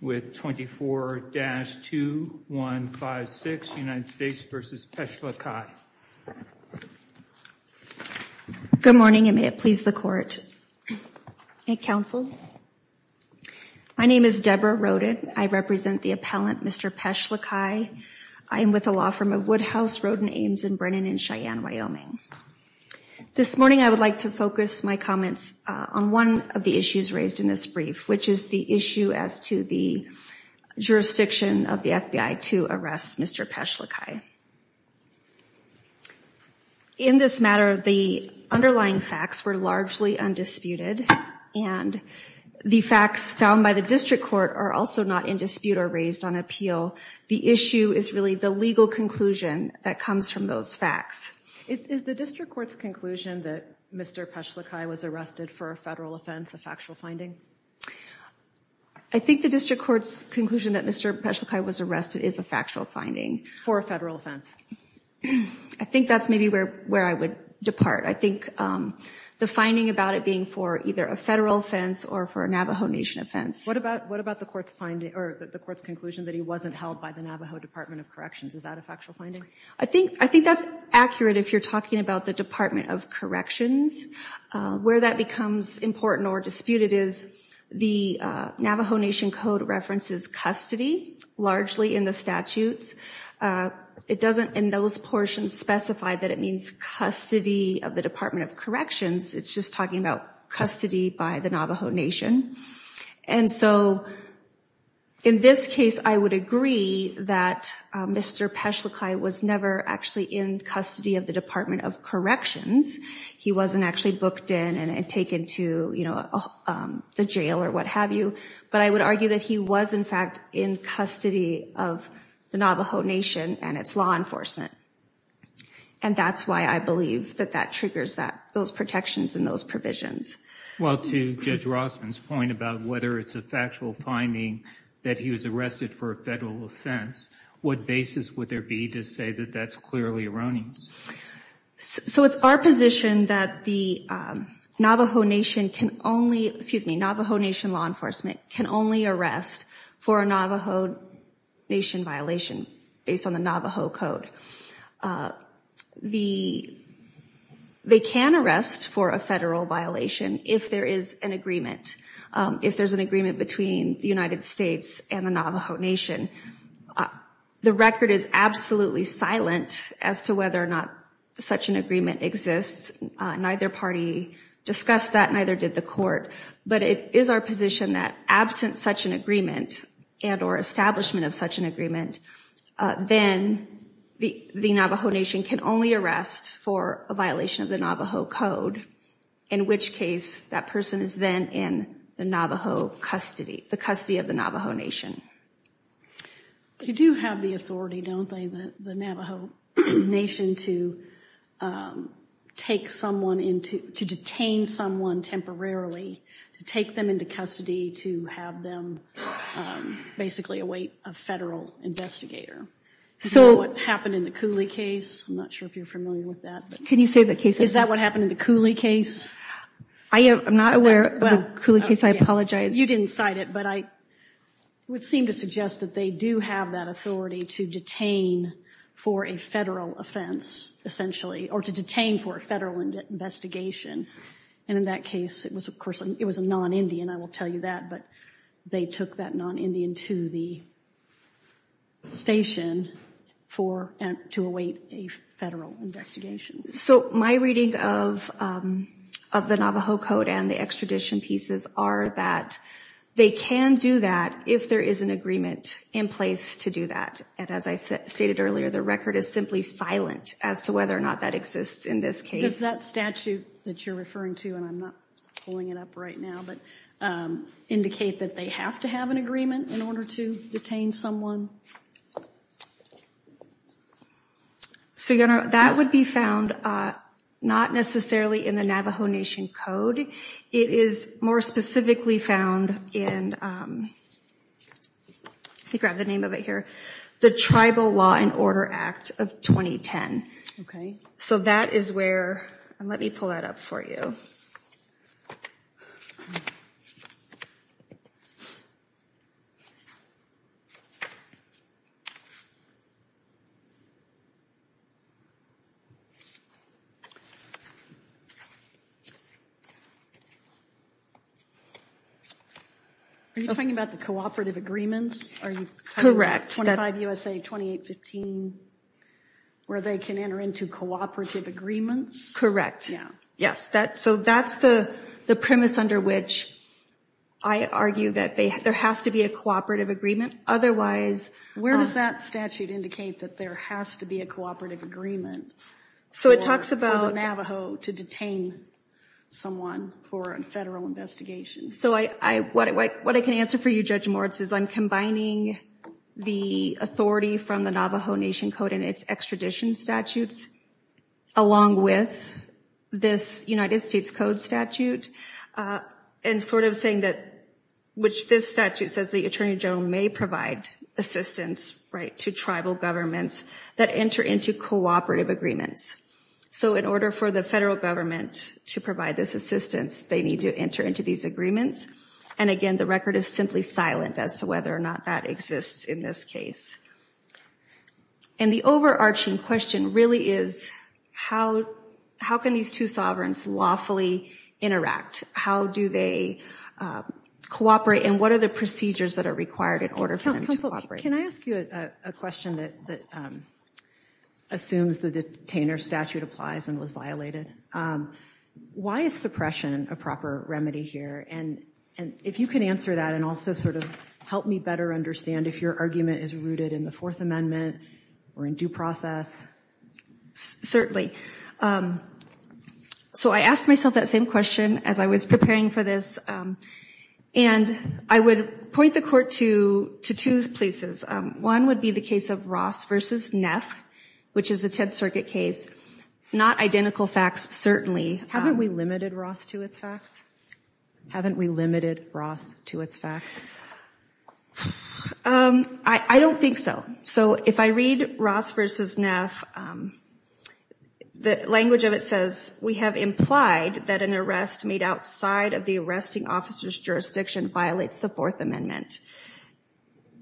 with 24-2156 United States v. Peshlakai. Good morning and may it please the court and counsel. My name is Deborah Roden. I represent the appellant Mr. Peshlakai. I am with a law firm of Woodhouse, Roden, Ames, and Brennan in Cheyenne, Wyoming. This morning I would like to focus my comments on one of the issues raised in this brief, which is the issue as to the jurisdiction of the FBI to arrest Mr. Peshlakai. In this matter, the underlying facts were largely undisputed and the facts found by the district court are also not in dispute or raised on appeal. The issue is really the legal conclusion that comes from those facts. Is the district court's conclusion that Mr. Peshlakai was arrested for a federal offense a factual finding? I think the district court's conclusion that Mr. Peshlakai was arrested is a factual finding. For a federal offense. I think that's maybe where I would depart. I think the finding about it being for either a federal offense or for a Navajo Nation offense. What about the court's finding, or the court's conclusion that he wasn't held by the Navajo Department of Corrections? Is that a factual finding? I think that's accurate if you're talking about the Department of Corrections. Where that becomes important or disputed is the Navajo Nation code references custody, largely in the statutes. It doesn't, in those portions, specify that it means custody of the Department of Corrections. It's just talking about custody by the Navajo Nation. And so, in this case, I would agree that Mr. Peshlakai was never actually in custody of the Department of Corrections. He wasn't actually booked in and taken to the jail, or what have you. But I would argue that he was, in fact, in custody of the Navajo Nation and its law enforcement. And that's why I believe that that triggers those protections and those provisions. Well, to Judge Rossman's point about whether it's a factual finding that he was arrested for a federal offense, what basis would there be to say that that's clearly erroneous? So, it's our position that the Navajo Nation can only, excuse me, Navajo Nation law enforcement can only arrest for a Navajo Nation violation based on the Navajo code. They can arrest for a federal violation if there is an agreement, if there's an agreement between the United States and the Navajo Nation. The record is absolutely silent as to whether such an agreement exists. Neither party discussed that, neither did the court. But it is our position that absent such an agreement and or establishment of such an agreement, then the Navajo Nation can only arrest for a violation of the Navajo code, in which case that person is then in the Navajo custody, the custody of the Navajo Nation. They do have the authority, don't they, the Navajo Nation to take someone into, to detain someone temporarily, to take them into custody, to have them basically await a federal investigator. So, what happened in the Cooley case, I'm not sure if you're familiar with that. Can you say the case? Is that what happened in the Cooley case? I am not aware of the Cooley case, I apologize. You didn't cite it, but I would seem to suggest that they do have that authority to detain for a federal offense, essentially, or to detain for a federal investigation. And in that case, it was a non-Indian, I will tell you that, but they took that non-Indian to the station for, to await a federal investigation. So, my reading of the Navajo code and the extradition pieces are that they can do that if there is an agreement in place to do that. And as I stated earlier, the record is simply silent as to whether or not that exists in this case. Does that statute that you're referring to, and I'm not pulling it up right now, but indicate that they have to have an agreement in order to detain someone? So, your Honor, that would be found not necessarily in the Navajo Nation code. It is more specifically found in, let me grab the name of it here, the Tribal Law and Order Act of 2010. Okay. So, that is where, and let me pull that up for you. Are you talking about the cooperative agreements? Are you talking about 25 U.S.A., 2815, where they can enter into cooperative agreements? Correct, yes. So, that's the premise under which I argue that there has to be a cooperative agreement. Otherwise, Where does that statute indicate that there has to be a cooperative agreement for the Navajo to detain someone? For a federal investigation. So, what I can answer for you, Judge Moritz, is I'm combining the authority from the Navajo Nation code and its extradition statutes along with this United States Code statute, and sort of saying that, which this statute says the Attorney General may provide assistance to tribal governments that enter into cooperative agreements. So, in order for the federal government to provide this assistance, they need to enter into these agreements. And again, the record is simply silent as to whether or not that exists in this case. And the overarching question really is how can these two sovereigns lawfully interact? How do they cooperate, and what are the procedures that are required in order for them to cooperate? Can I ask you a question that assumes the detainer statute applies and was violated? Why is suppression a proper remedy here? And if you can answer that, and also sort of help me better understand if your argument is rooted in the Fourth Amendment or in due process. Certainly. So, I asked myself that same question as I was preparing for this, and I would point the court to two places. One would be the case of Ross versus Neff, which is a Tenth Circuit case. Not identical facts, certainly. Haven't we limited Ross to its facts? Haven't we limited Ross to its facts? I don't think so. So, if I read Ross versus Neff, the language of it says, we have implied that an arrest made outside of the arresting officer's jurisdiction violates the Fourth Amendment,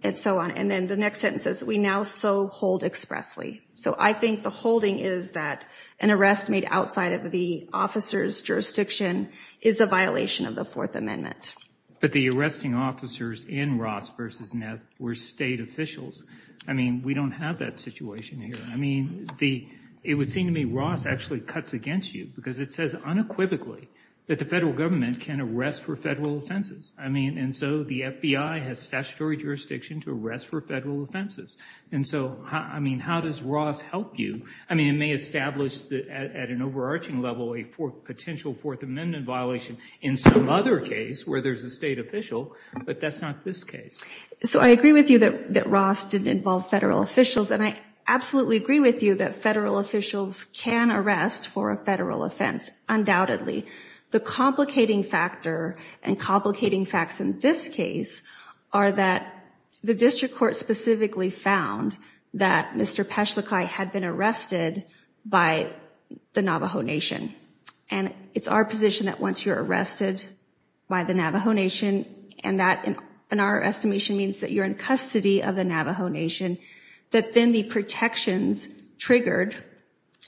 and so on. And then the next sentence says, we now so hold expressly. So, I think the holding is that an arrest made outside of the officer's jurisdiction is a violation of the Fourth Amendment. But the arresting officers in Ross versus Neff were state officials. I mean, we don't have that situation here. I mean, it would seem to me Ross actually cuts against you, because it says unequivocally that the federal government can arrest for federal offenses. I mean, and so the FBI has statutory jurisdiction to arrest for federal offenses. And so, I mean, how does Ross help you? I mean, it may establish at an overarching level a potential Fourth Amendment violation in some other case where there's a state official, but that's not this case. So, I agree with you that Ross didn't involve federal officials, and I absolutely agree with you that federal officials can arrest for a federal offense, undoubtedly. The complicating factor and complicating facts in this case are that the district court specifically found that Mr. Peschlakai had been arrested by the Navajo Nation. And it's our position that once you're arrested by the Navajo Nation, and that, in our estimation, means that you're in custody of the Navajo Nation, that then the protections triggered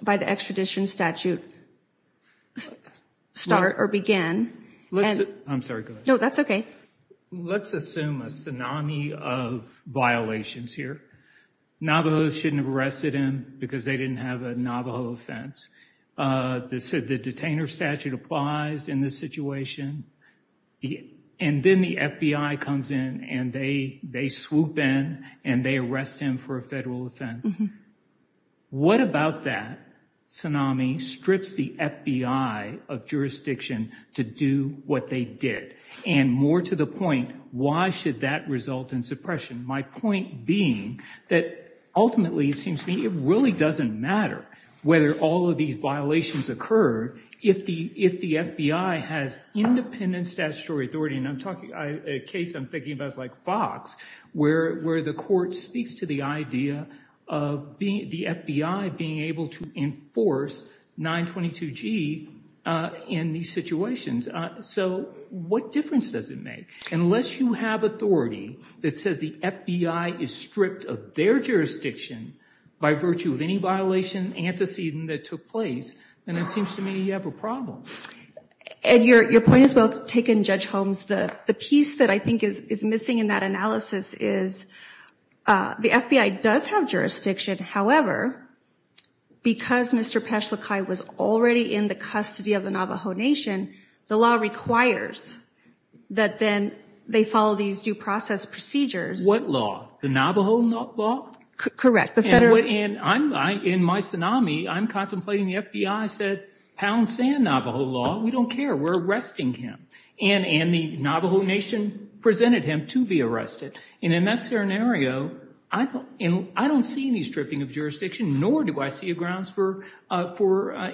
by the extradition statute start or begin. I'm sorry, go ahead. No, that's okay. Let's assume a tsunami of violations here. Navajos shouldn't have arrested him because they didn't have a Navajo offense. The detainer statute applies in this situation. And then the FBI comes in, and they swoop in, and they arrest him for a federal offense. What about that tsunami strips the FBI of jurisdiction to do what they did? And more to the point, why should that result in suppression? My point being that ultimately, it seems to me, it really doesn't matter whether all of these violations occur if the FBI has independent statutory authority. And I'm talking, a case I'm thinking about is like Fox, where the court speaks to the idea of the FBI being able to enforce 922G in these situations. So what difference does it make? Unless you have authority that says the FBI is stripped of their jurisdiction by virtue of any violation, antecedent, that took place, then it seems to me you have a problem. And your point is well taken, Judge Holmes. The piece that I think is missing in that analysis is the FBI does have jurisdiction. However, because Mr. Pachalakai was already in the custody of the Navajo Nation, the law requires that then they follow these due process procedures. What law? The Navajo law? Correct. And in my tsunami, I'm contemplating the FBI said, pound sand Navajo law, we don't care, we're arresting him. And the Navajo Nation presented him to be arrested. And in that scenario, I don't see any stripping of jurisdiction, nor do I see a grounds for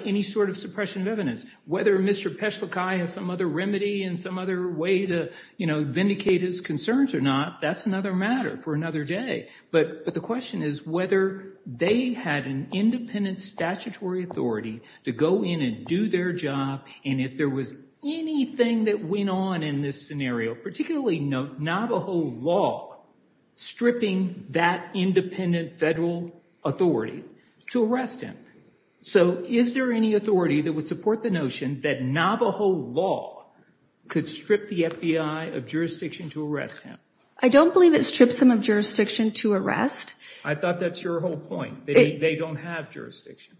any sort of suppression of evidence. Whether Mr. Pachalakai has some other remedy and some other way to vindicate his concerns or not, that's another matter for another day. But the question is whether they had an independent statutory authority to go in and do their job, and if there was anything that went on in this scenario, particularly Navajo law, stripping that independent federal authority to arrest him. So is there any authority that would support the notion that Navajo law could strip the FBI of jurisdiction to arrest him? I don't believe it strips him of jurisdiction to arrest. I thought that's your whole point. They don't have jurisdiction.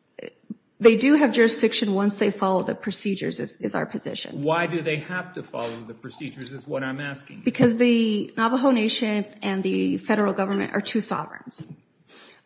They do have jurisdiction once they follow the procedures, is our position. Why do they have to follow the procedures, is what I'm asking. Because the Navajo Nation and the federal government are two sovereigns,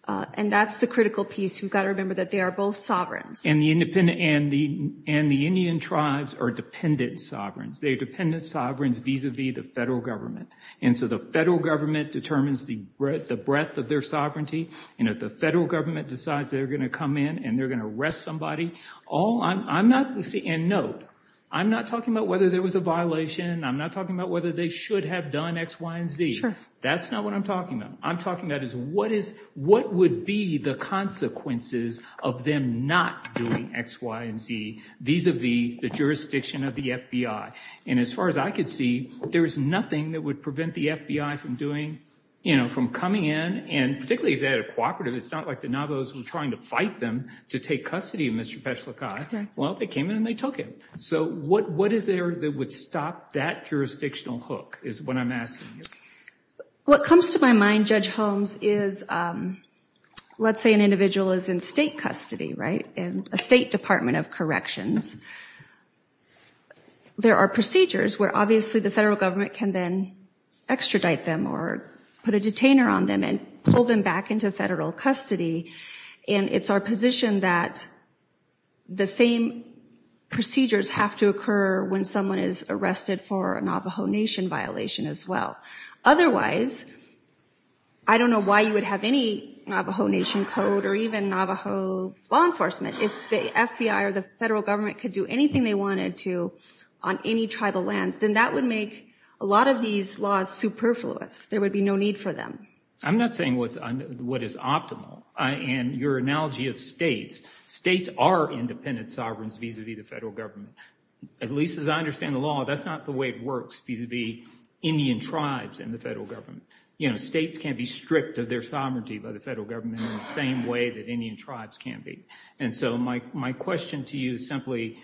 and that's the critical piece. We've got to remember that they are both sovereigns. And the Indian tribes are dependent sovereigns. They're dependent sovereigns vis-a-vis the federal government. And so the federal government determines the breadth of their sovereignty, and if the federal government decides they're gonna come in and they're gonna arrest somebody, all I'm not, and note, I'm not talking about whether there was a violation. I'm not talking about whether they should have done X, Y, and Z. Sure. That's not what I'm talking about. I'm talking about is what is, what would be the consequences of them not doing X, Y, and Z vis-a-vis the jurisdiction of the FBI? And as far as I could see, there's nothing that would prevent the FBI from doing, you know, from coming in, and particularly if they had a cooperative, it's not like the Navajos were trying to fight them to take custody of Mr. Peshlakai. Well, they came in and they took him. So what is there that would stop that jurisdictional hook, is what I'm asking you. What comes to my mind, Judge Holmes, is let's say an individual is in state custody, right, in a state department of corrections. There are procedures where obviously the federal government can then extradite them or put a detainer on them and pull them back into federal custody, and it's our position that the same procedures have to occur when someone is arrested for a Navajo Nation violation as well. Otherwise, I don't know why you would have any Navajo Nation code or even Navajo law enforcement. If the FBI or the federal government could do anything they wanted to on any tribal lands, then that would make a lot of these laws superfluous. There would be no need for them. I'm not saying what is optimal. In your analogy of states, states are independent sovereigns vis-a-vis the federal government. At least as I understand the law, that's not the way it works vis-a-vis Indian tribes and the federal government. States can't be stripped of their sovereignty by the federal government in the same way that Indian tribes can't be. And so my question to you is simply,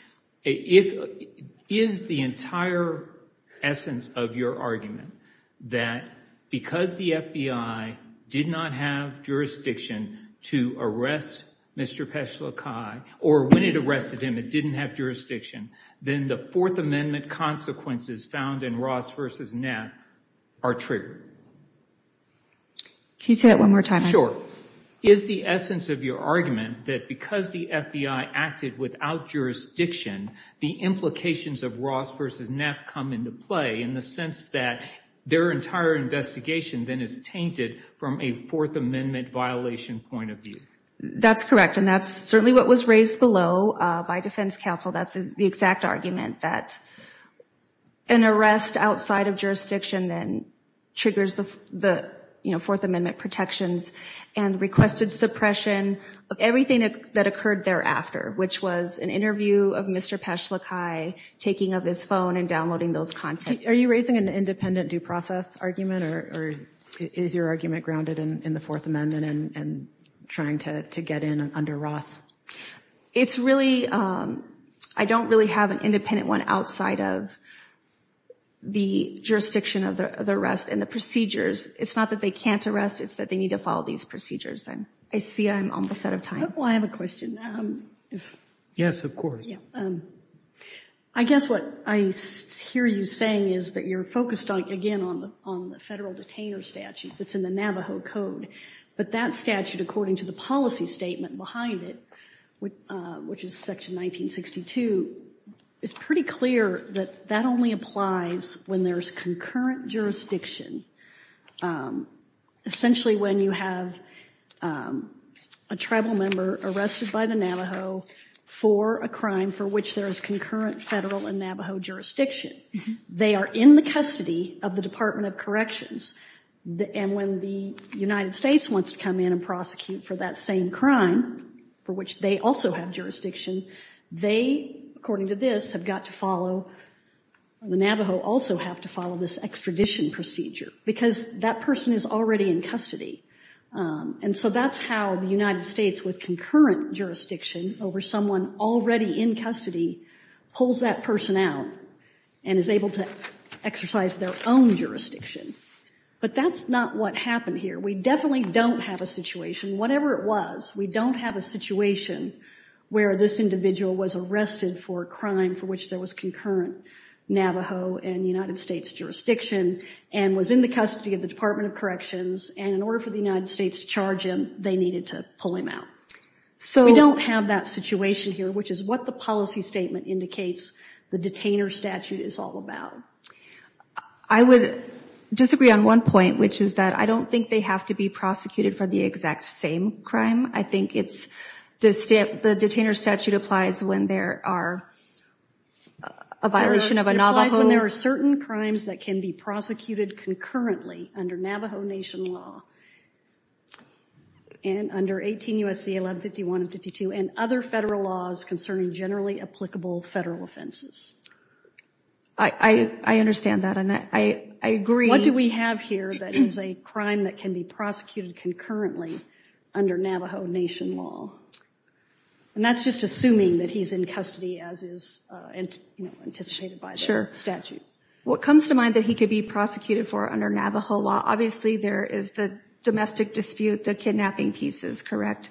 is the entire essence of your argument that because the FBI did not have jurisdiction to arrest Mr. Peshla Kai, or when it arrested him it didn't have jurisdiction, then the Fourth Amendment consequences found in Ross v. Neff are true? Can you say that one more time? Sure. Is the essence of your argument that because the FBI acted without jurisdiction, the implications of Ross v. Neff come into play in the sense that their entire investigation then is tainted from a Fourth Amendment violation point of view? That's correct, and that's certainly what was raised below by defense counsel. That's the exact argument, that an arrest outside of jurisdiction then triggers the Fourth Amendment protections and requested suppression of everything that occurred thereafter, which was an interview of Mr. Peshla Kai taking up his phone and downloading those contents. Are you raising an independent due process argument, or is your argument grounded in the Fourth Amendment and trying to get in under Ross? It's really, I don't really have an independent one outside of the jurisdiction of the arrest and the procedures. It's not that they can't arrest, it's that they need to follow these procedures. I see I'm almost out of time. Well, I have a question. Yes, of course. I guess what I hear you saying is that you're focused, again, on the federal detainer statute that's in the Navajo Code, but that statute, according to the policy statement behind it, which is section 1962, it's pretty clear that that only applies when there's concurrent jurisdiction. Essentially, when you have a tribal member arrested by the Navajo for a crime for which there is concurrent federal and Navajo jurisdiction. They are in the custody of the Department of Corrections, and when the United States wants to come in and prosecute for that same crime, for which they also have jurisdiction, they, according to this, have got to follow, the Navajo also have to follow this extradition procedure, because that person is already in custody. And so that's how the United States, with concurrent jurisdiction over someone already in custody, pulls that person out and is able to exercise their own jurisdiction. But that's not what happened here. We definitely don't have a situation, whatever it was, we don't have a situation where this individual was arrested for a crime for which there was concurrent Navajo and United States jurisdiction, and was in the custody of the Department of Corrections, and in order for the United States to charge him, they needed to pull him out. So we don't have that situation here, which is what the policy statement indicates the detainer statute is all about. I would disagree on one point, which is that I don't think they have to be prosecuted for the exact same crime. I think it's, the detainer statute applies when there are a violation of a Navajo. It applies when there are certain crimes that can be prosecuted concurrently under Navajo Nation law, and under 18 U.S.C. 1151 and 52, and other federal laws concerning generally applicable federal offenses. I understand that, and I agree. What do we have here that is a crime that can be prosecuted concurrently under Navajo Nation law? And that's just assuming that he's in custody as is anticipated by the statute. What comes to mind that he could be prosecuted for under Navajo law, obviously there is the domestic dispute, the kidnapping pieces, correct?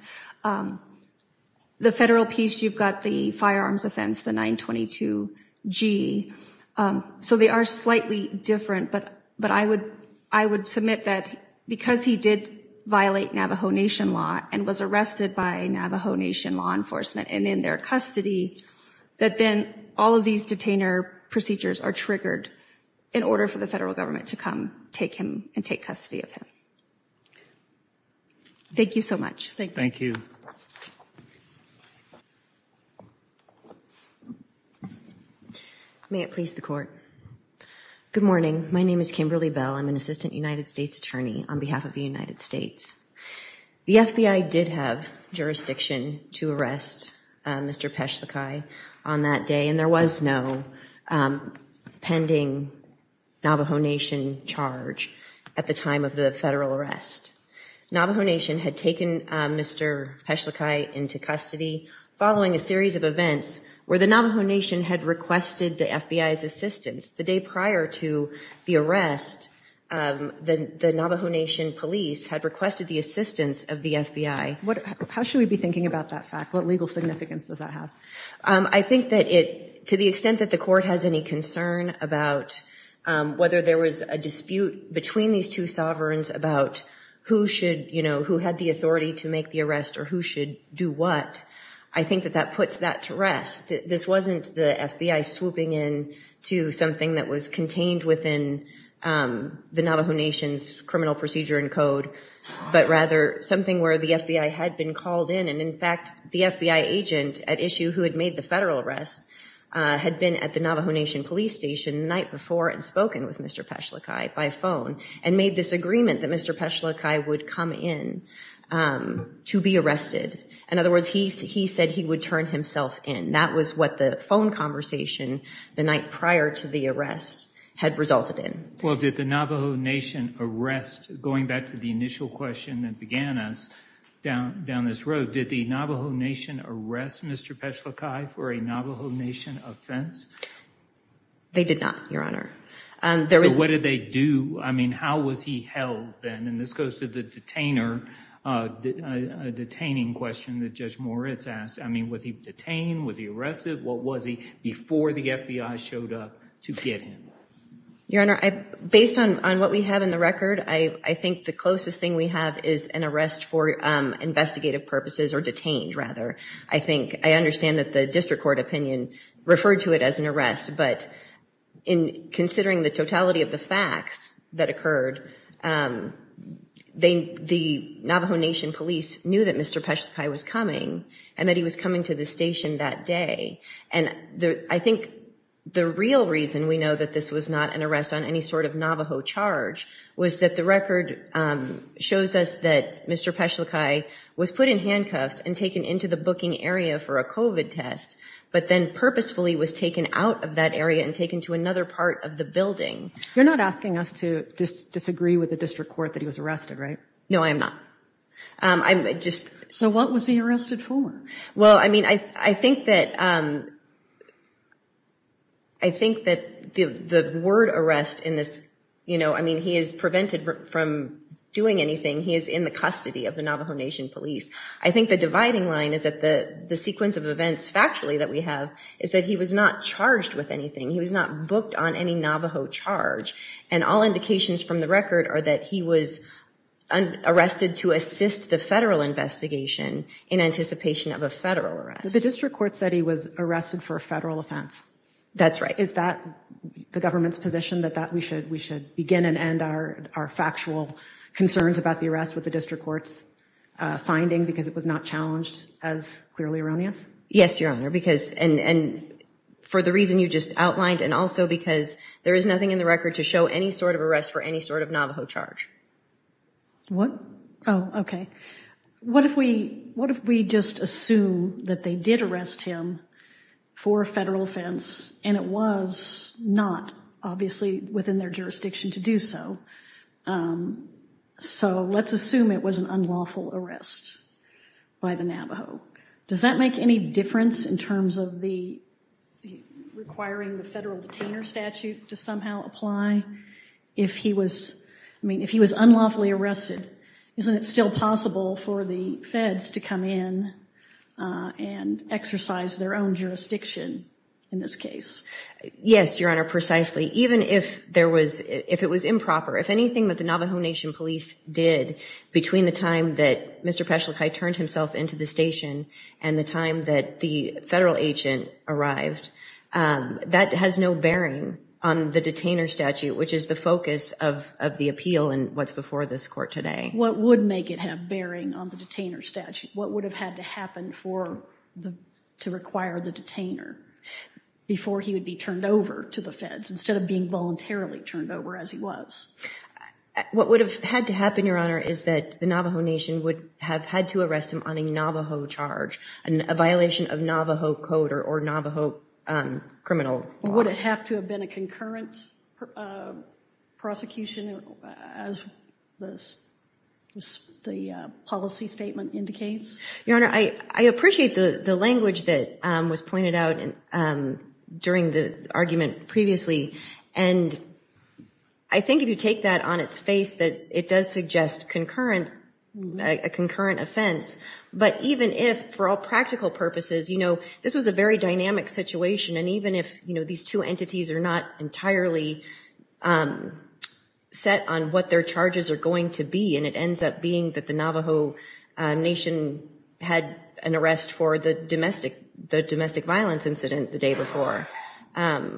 The federal piece, you've got the firearms offense, the 922-G, so they are slightly different, but I would submit that because he did violate Navajo Nation law and was arrested by Navajo Nation law enforcement and in their custody, that then all of these detainer procedures are triggered in order for the federal government to come take him and take custody of him. Thank you so much. Thank you. May it please the court. Good morning. My name is Kimberly Bell. I'm an Assistant United States Attorney on behalf of the United States. The FBI did have jurisdiction to arrest Mr. Peschlakai on that day, and there was no pending Navajo Nation charge at the time of the federal arrest. Navajo Nation had taken Mr. Peschlakai into custody following a series of events where the Navajo Nation had requested the FBI's assistance. The day prior to the arrest, the Navajo Nation police had requested the assistance of the FBI. How should we be thinking about that fact? What legal significance does that have? I think that it, to the extent that the court has any concern about whether there was a dispute between these two sovereigns about who should, you know, who had the authority to make the arrest or who should do what, I think that that puts that to rest. This wasn't the FBI swooping in to something that was contained within the Navajo Nation's criminal procedure and code, but rather something where the FBI had been called in, and in fact, the FBI agent at issue who had made the federal arrest had been at the Navajo Nation police station the night before and spoken with Mr. Peschlakai by phone and made this agreement that Mr. Peschlakai would come in to be arrested. In other words, he said he would turn himself in. And that was what the phone conversation the night prior to the arrest had resulted in. Well, did the Navajo Nation arrest, going back to the initial question that began us down this road, did the Navajo Nation arrest Mr. Peschlakai for a Navajo Nation offense? They did not, Your Honor. There was- So what did they do? I mean, how was he held then? And this goes to the detainer, a detaining question that Judge Moritz asked. I mean, was he detained? Was he arrested? What was he before the FBI showed up to get him? Your Honor, based on what we have in the record, I think the closest thing we have is an arrest for investigative purposes, or detained, rather. I think, I understand that the district court opinion referred to it as an arrest, but in considering the totality of the facts that occurred, the Navajo Nation police knew that Mr. Peschlakai was coming, and that he was coming to the station that day. And I think the real reason we know that this was not an arrest on any sort of Navajo charge was that the record shows us that Mr. Peschlakai was put in handcuffs and taken into the booking area for a COVID test, but then purposefully was taken out of that area and taken to another part of the building. You're not asking us to disagree with the district court that he was arrested, right? No, I am not. I'm just. So what was he arrested for? Well, I mean, I think that, I think that the word arrest in this, you know, I mean, he is prevented from doing anything. He is in the custody of the Navajo Nation police. I think the dividing line is that the sequence of events, factually, that we have is that he was not charged with anything, he was not booked on any Navajo charge. And all indications from the record are that he was arrested to assist the federal investigation in anticipation of a federal arrest. The district court said he was arrested for a federal offense. That's right. Is that the government's position that we should begin and end our factual concerns about the arrest with the district court's finding because it was not challenged as clearly erroneous? Yes, your honor, because, and for the reason you just outlined, and also because there is nothing in the record to show any sort of arrest for any sort of Navajo charge. What, oh, okay. What if we just assume that they did arrest him for a federal offense and it was not, obviously, within their jurisdiction to do so? So let's assume it was an unlawful arrest by the Navajo. Does that make any difference in terms of the, requiring the federal detainer statute to somehow apply? If he was, I mean, if he was unlawfully arrested, isn't it still possible for the feds to come in and exercise their own jurisdiction in this case? Yes, your honor, precisely. Even if there was, if it was improper, if anything that the Navajo Nation Police did between the time that Mr. Peschlakai turned himself into the station and the time that the federal agent arrived, that has no bearing on the detainer statute, which is the focus of the appeal in what's before this court today. What would make it have bearing on the detainer statute? What would have had to happen for the, to require the detainer before he would be turned over to the feds, instead of being voluntarily turned over as he was? What would have had to happen, your honor, is that the Navajo Nation would have had to arrest him on a Navajo charge, a violation of Navajo code or Navajo criminal law? Would it have to have been a concurrent prosecution as the policy statement indicates? Your honor, I appreciate the language that was pointed out during the argument previously, and I think if you take that on its face that it does suggest concurrent, a concurrent offense, but even if, for all practical purposes, this was a very dynamic situation, and even if these two entities are not entirely set on what their charges are going to be, and it ends up being that the Navajo Nation had an arrest for the domestic violence incident the day before, I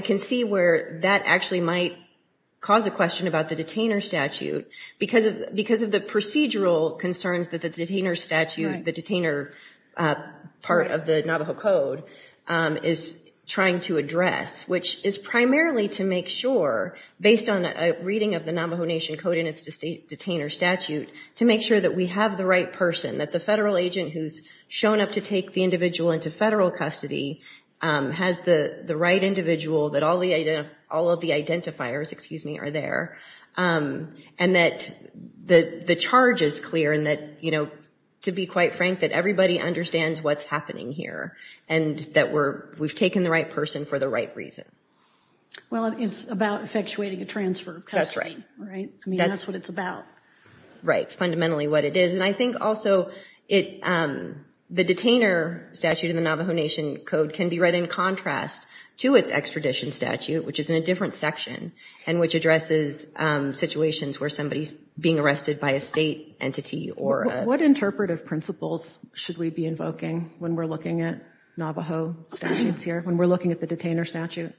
can see where that actually might cause a question about the detainer statute, because of the procedural concerns that the detainer statute, the detainer part of the Navajo code is trying to address, which is primarily to make sure, based on a reading of the Navajo Nation code in its detainer statute, to make sure that we have the right person, that the federal agent who's shown up to take the individual into federal custody has the right individual, that all of the identifiers, excuse me, are there, and that the charge is clear, and that, to be quite frank, that everybody understands what's happening here, and that we've taken the right person for the right reason. Well, it's about effectuating a transfer of custody, right, I mean, that's what it's about. Right, fundamentally what it is, and I think also, the detainer statute in the Navajo Nation code can be read in contrast to its extradition statute, which is in a different section, and which addresses situations where somebody's being arrested by a state entity, or a. What interpretive principles should we be invoking when we're looking at Navajo statutes here, when we're looking at the detainer statute,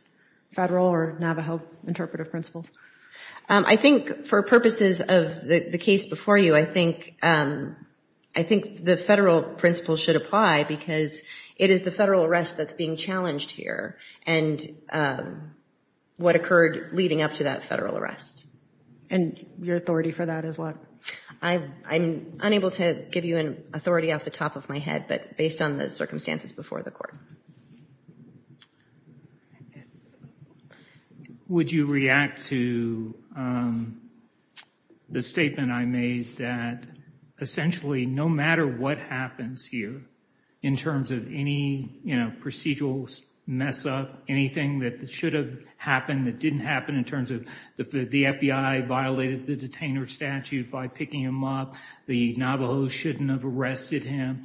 federal or Navajo interpretive principles? I think, for purposes of the case before you, I think the federal principle should apply, because it is the federal arrest that's being challenged here, and what occurred leading up to that federal arrest. And your authority for that as well? I'm unable to give you an authority off the top of my head, but based on the circumstances before the court. Would you react to the statement I made that essentially, no matter what happens here, in terms of any procedural mess up, anything that should have happened that didn't happen in terms of the FBI violated the detainer statute by picking him up, the Navajos shouldn't have arrested him,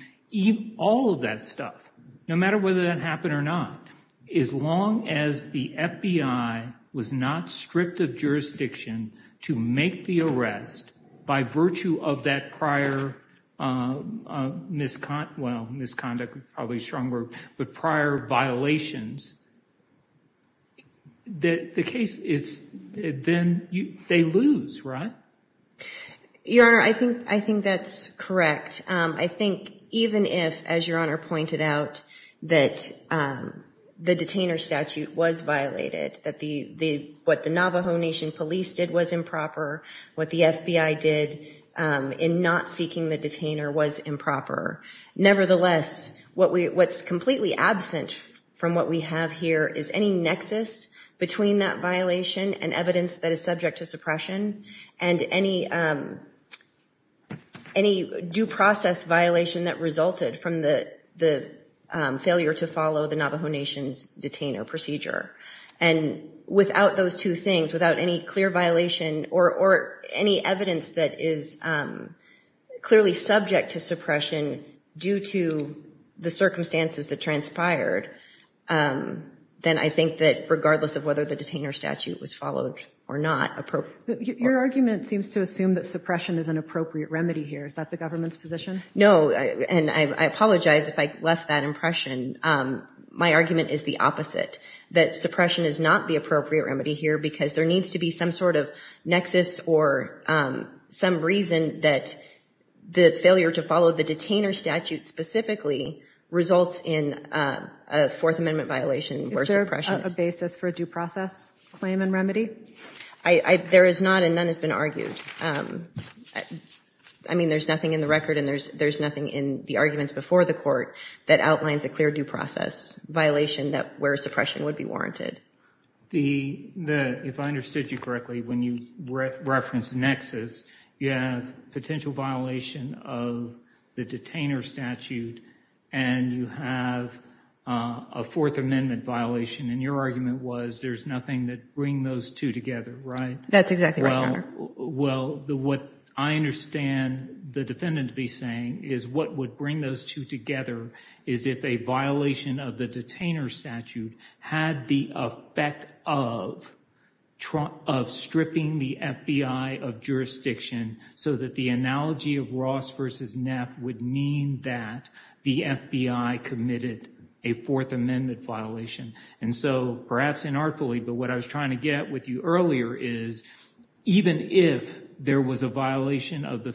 all of that stuff, no matter whether that happened or not, as long as the FBI was not stripped of jurisdiction to make the arrest by virtue of that prior misconduct, well, misconduct is probably a strong word, but prior violations, the case is, then they lose, right? Your Honor, I think that's correct. I think even if, as Your Honor pointed out, that the detainer statute was violated, that what the Navajo Nation Police did was improper, what the FBI did in not seeking the detainer was improper, nevertheless, what's completely absent from what we have here is any nexus between that violation and evidence that is subject to suppression, and any due process violation that resulted from the failure to follow the Navajo Nation's detainer procedure, and without those two things, without any clear violation, or any evidence that is clearly subject to suppression, due to the circumstances that transpired, then I think that regardless of whether the detainer statute was followed or not, appropriate. Your argument seems to assume that suppression is an appropriate remedy here. Is that the government's position? No, and I apologize if I left that impression. My argument is the opposite, that suppression is not the appropriate remedy here, because there needs to be some sort of nexus or some reason that the failure to follow the detainer statute specifically results in a Fourth Amendment violation where suppression. Is there a basis for a due process claim and remedy? I, there is not, and none has been argued. I mean, there's nothing in the record, and there's nothing in the arguments before the court that outlines a clear due process violation that where suppression would be warranted. The, if I understood you correctly, when you referenced nexus, you have potential violation of the detainer statute, and you have a Fourth Amendment violation, and your argument was there's nothing that bring those two together, right? That's exactly right, Your Honor. Well, what I understand the defendant to be saying is what would bring those two together is if a violation of the detainer statute had the effect of stripping the FBI of jurisdiction so that the analogy of Ross versus Neff would mean that the FBI committed a Fourth Amendment violation. And so, perhaps inartfully, but what I was trying to get at with you earlier is even if there was a violation of the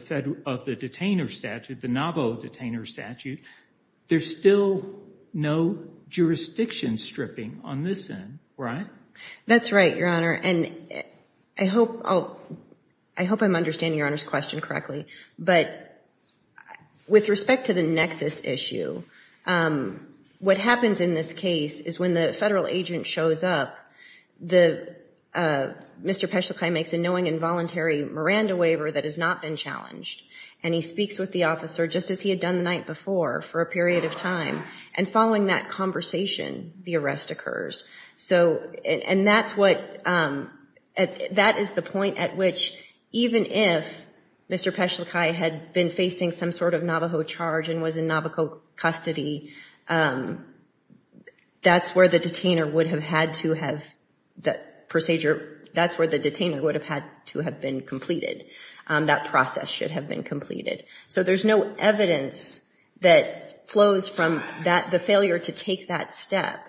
detainer statute, the novel detainer statute, there's still no jurisdiction stripping on this end, right? That's right, Your Honor, and I hope I'm understanding Your Honor's question correctly, but with respect to the nexus issue, what happens in this case is when the federal agent shows up, Mr. Peschlakai makes a knowing and voluntary Miranda waiver that has not been challenged, and he speaks with the officer just as he had done the night before for a period of time, and following that conversation, the arrest occurs. So, and that's what, that is the point at which even if Mr. Peschlakai had been facing some sort of Navajo charge and was in Navajo custody, that's where the detainer would have had to have, that procedure, that's where the detainer would have had to have been completed. That process should have been completed. So there's no evidence that flows from the failure to take that step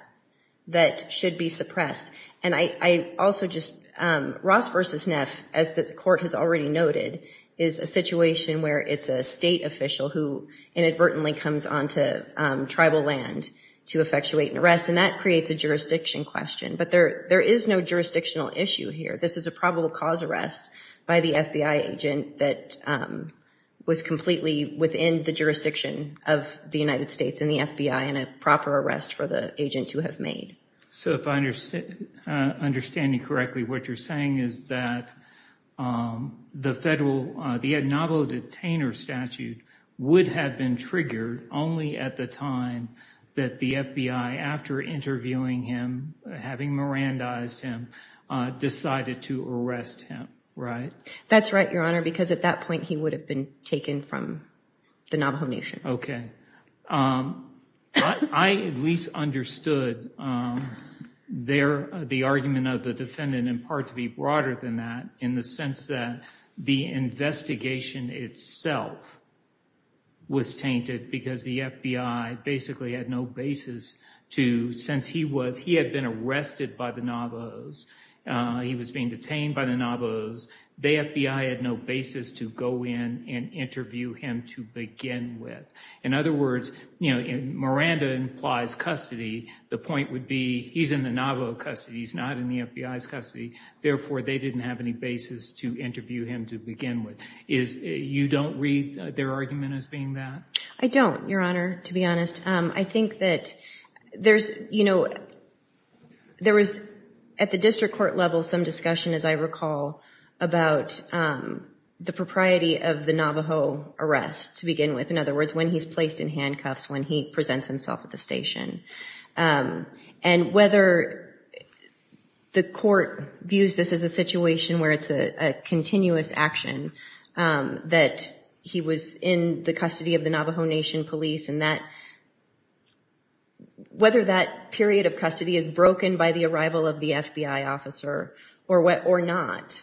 that should be suppressed, and I also just, Ross v. Neff, as the court has already noted, is a situation where it's a state official who inadvertently comes onto tribal land to effectuate an arrest, and that creates a jurisdiction question, but there is no jurisdictional issue here. This is a probable cause arrest by the FBI agent that was completely within the jurisdiction of the United States and the FBI and a proper arrest for the agent to have made. So if I understand you correctly, what you're saying is that the federal, the Navajo detainer statute would have been triggered only at the time that the FBI, after interviewing him, having Mirandized him, decided to arrest him, right? That's right, Your Honor, because at that point he would have been taken from the Navajo Nation. Okay. I at least understood the argument of the defendant in part to be broader than that in the sense that the investigation itself was tainted because the FBI basically had no basis to, since he had been arrested by the Navajos, he was being detained by the Navajos, the FBI had no basis to go in and interview him to begin with. In other words, Miranda implies custody, the point would be he's in the Navajo custody, he's not in the FBI's custody, therefore they didn't have any basis to interview him to begin with. Is, you don't read their argument as being that? I don't, Your Honor, to be honest. I think that there's, you know, there was at the district court level some discussion, as I recall, about the propriety of the Navajo arrest to begin with. In other words, when he's placed in handcuffs, when he presents himself at the station. And whether the court views this as a situation where it's a continuous action, that he was in the custody of the Navajo Nation police and that, whether that period of custody is broken by the arrival of the FBI officer or not.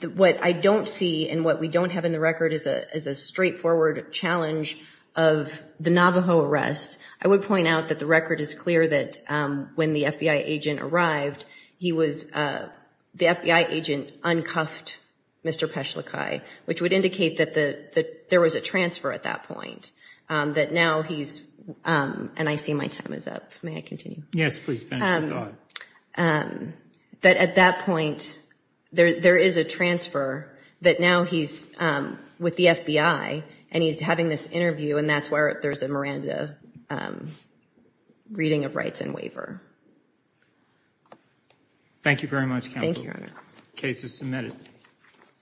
What I don't see and what we don't have in the record is a straightforward challenge of the Navajo arrest. I would point out that the record is clear that when the FBI agent arrived, he was, the FBI agent uncuffed Mr. Peschlakai, which would indicate that there was a transfer at that point. That now he's, and I see my time is up. May I continue? Yes, please. That at that point, there is a transfer that now he's with the FBI and he's having this interview and that's where there's a Miranda reading of rights and waiver. Thank you very much counsel. Thank you, your honor. Case is submitted.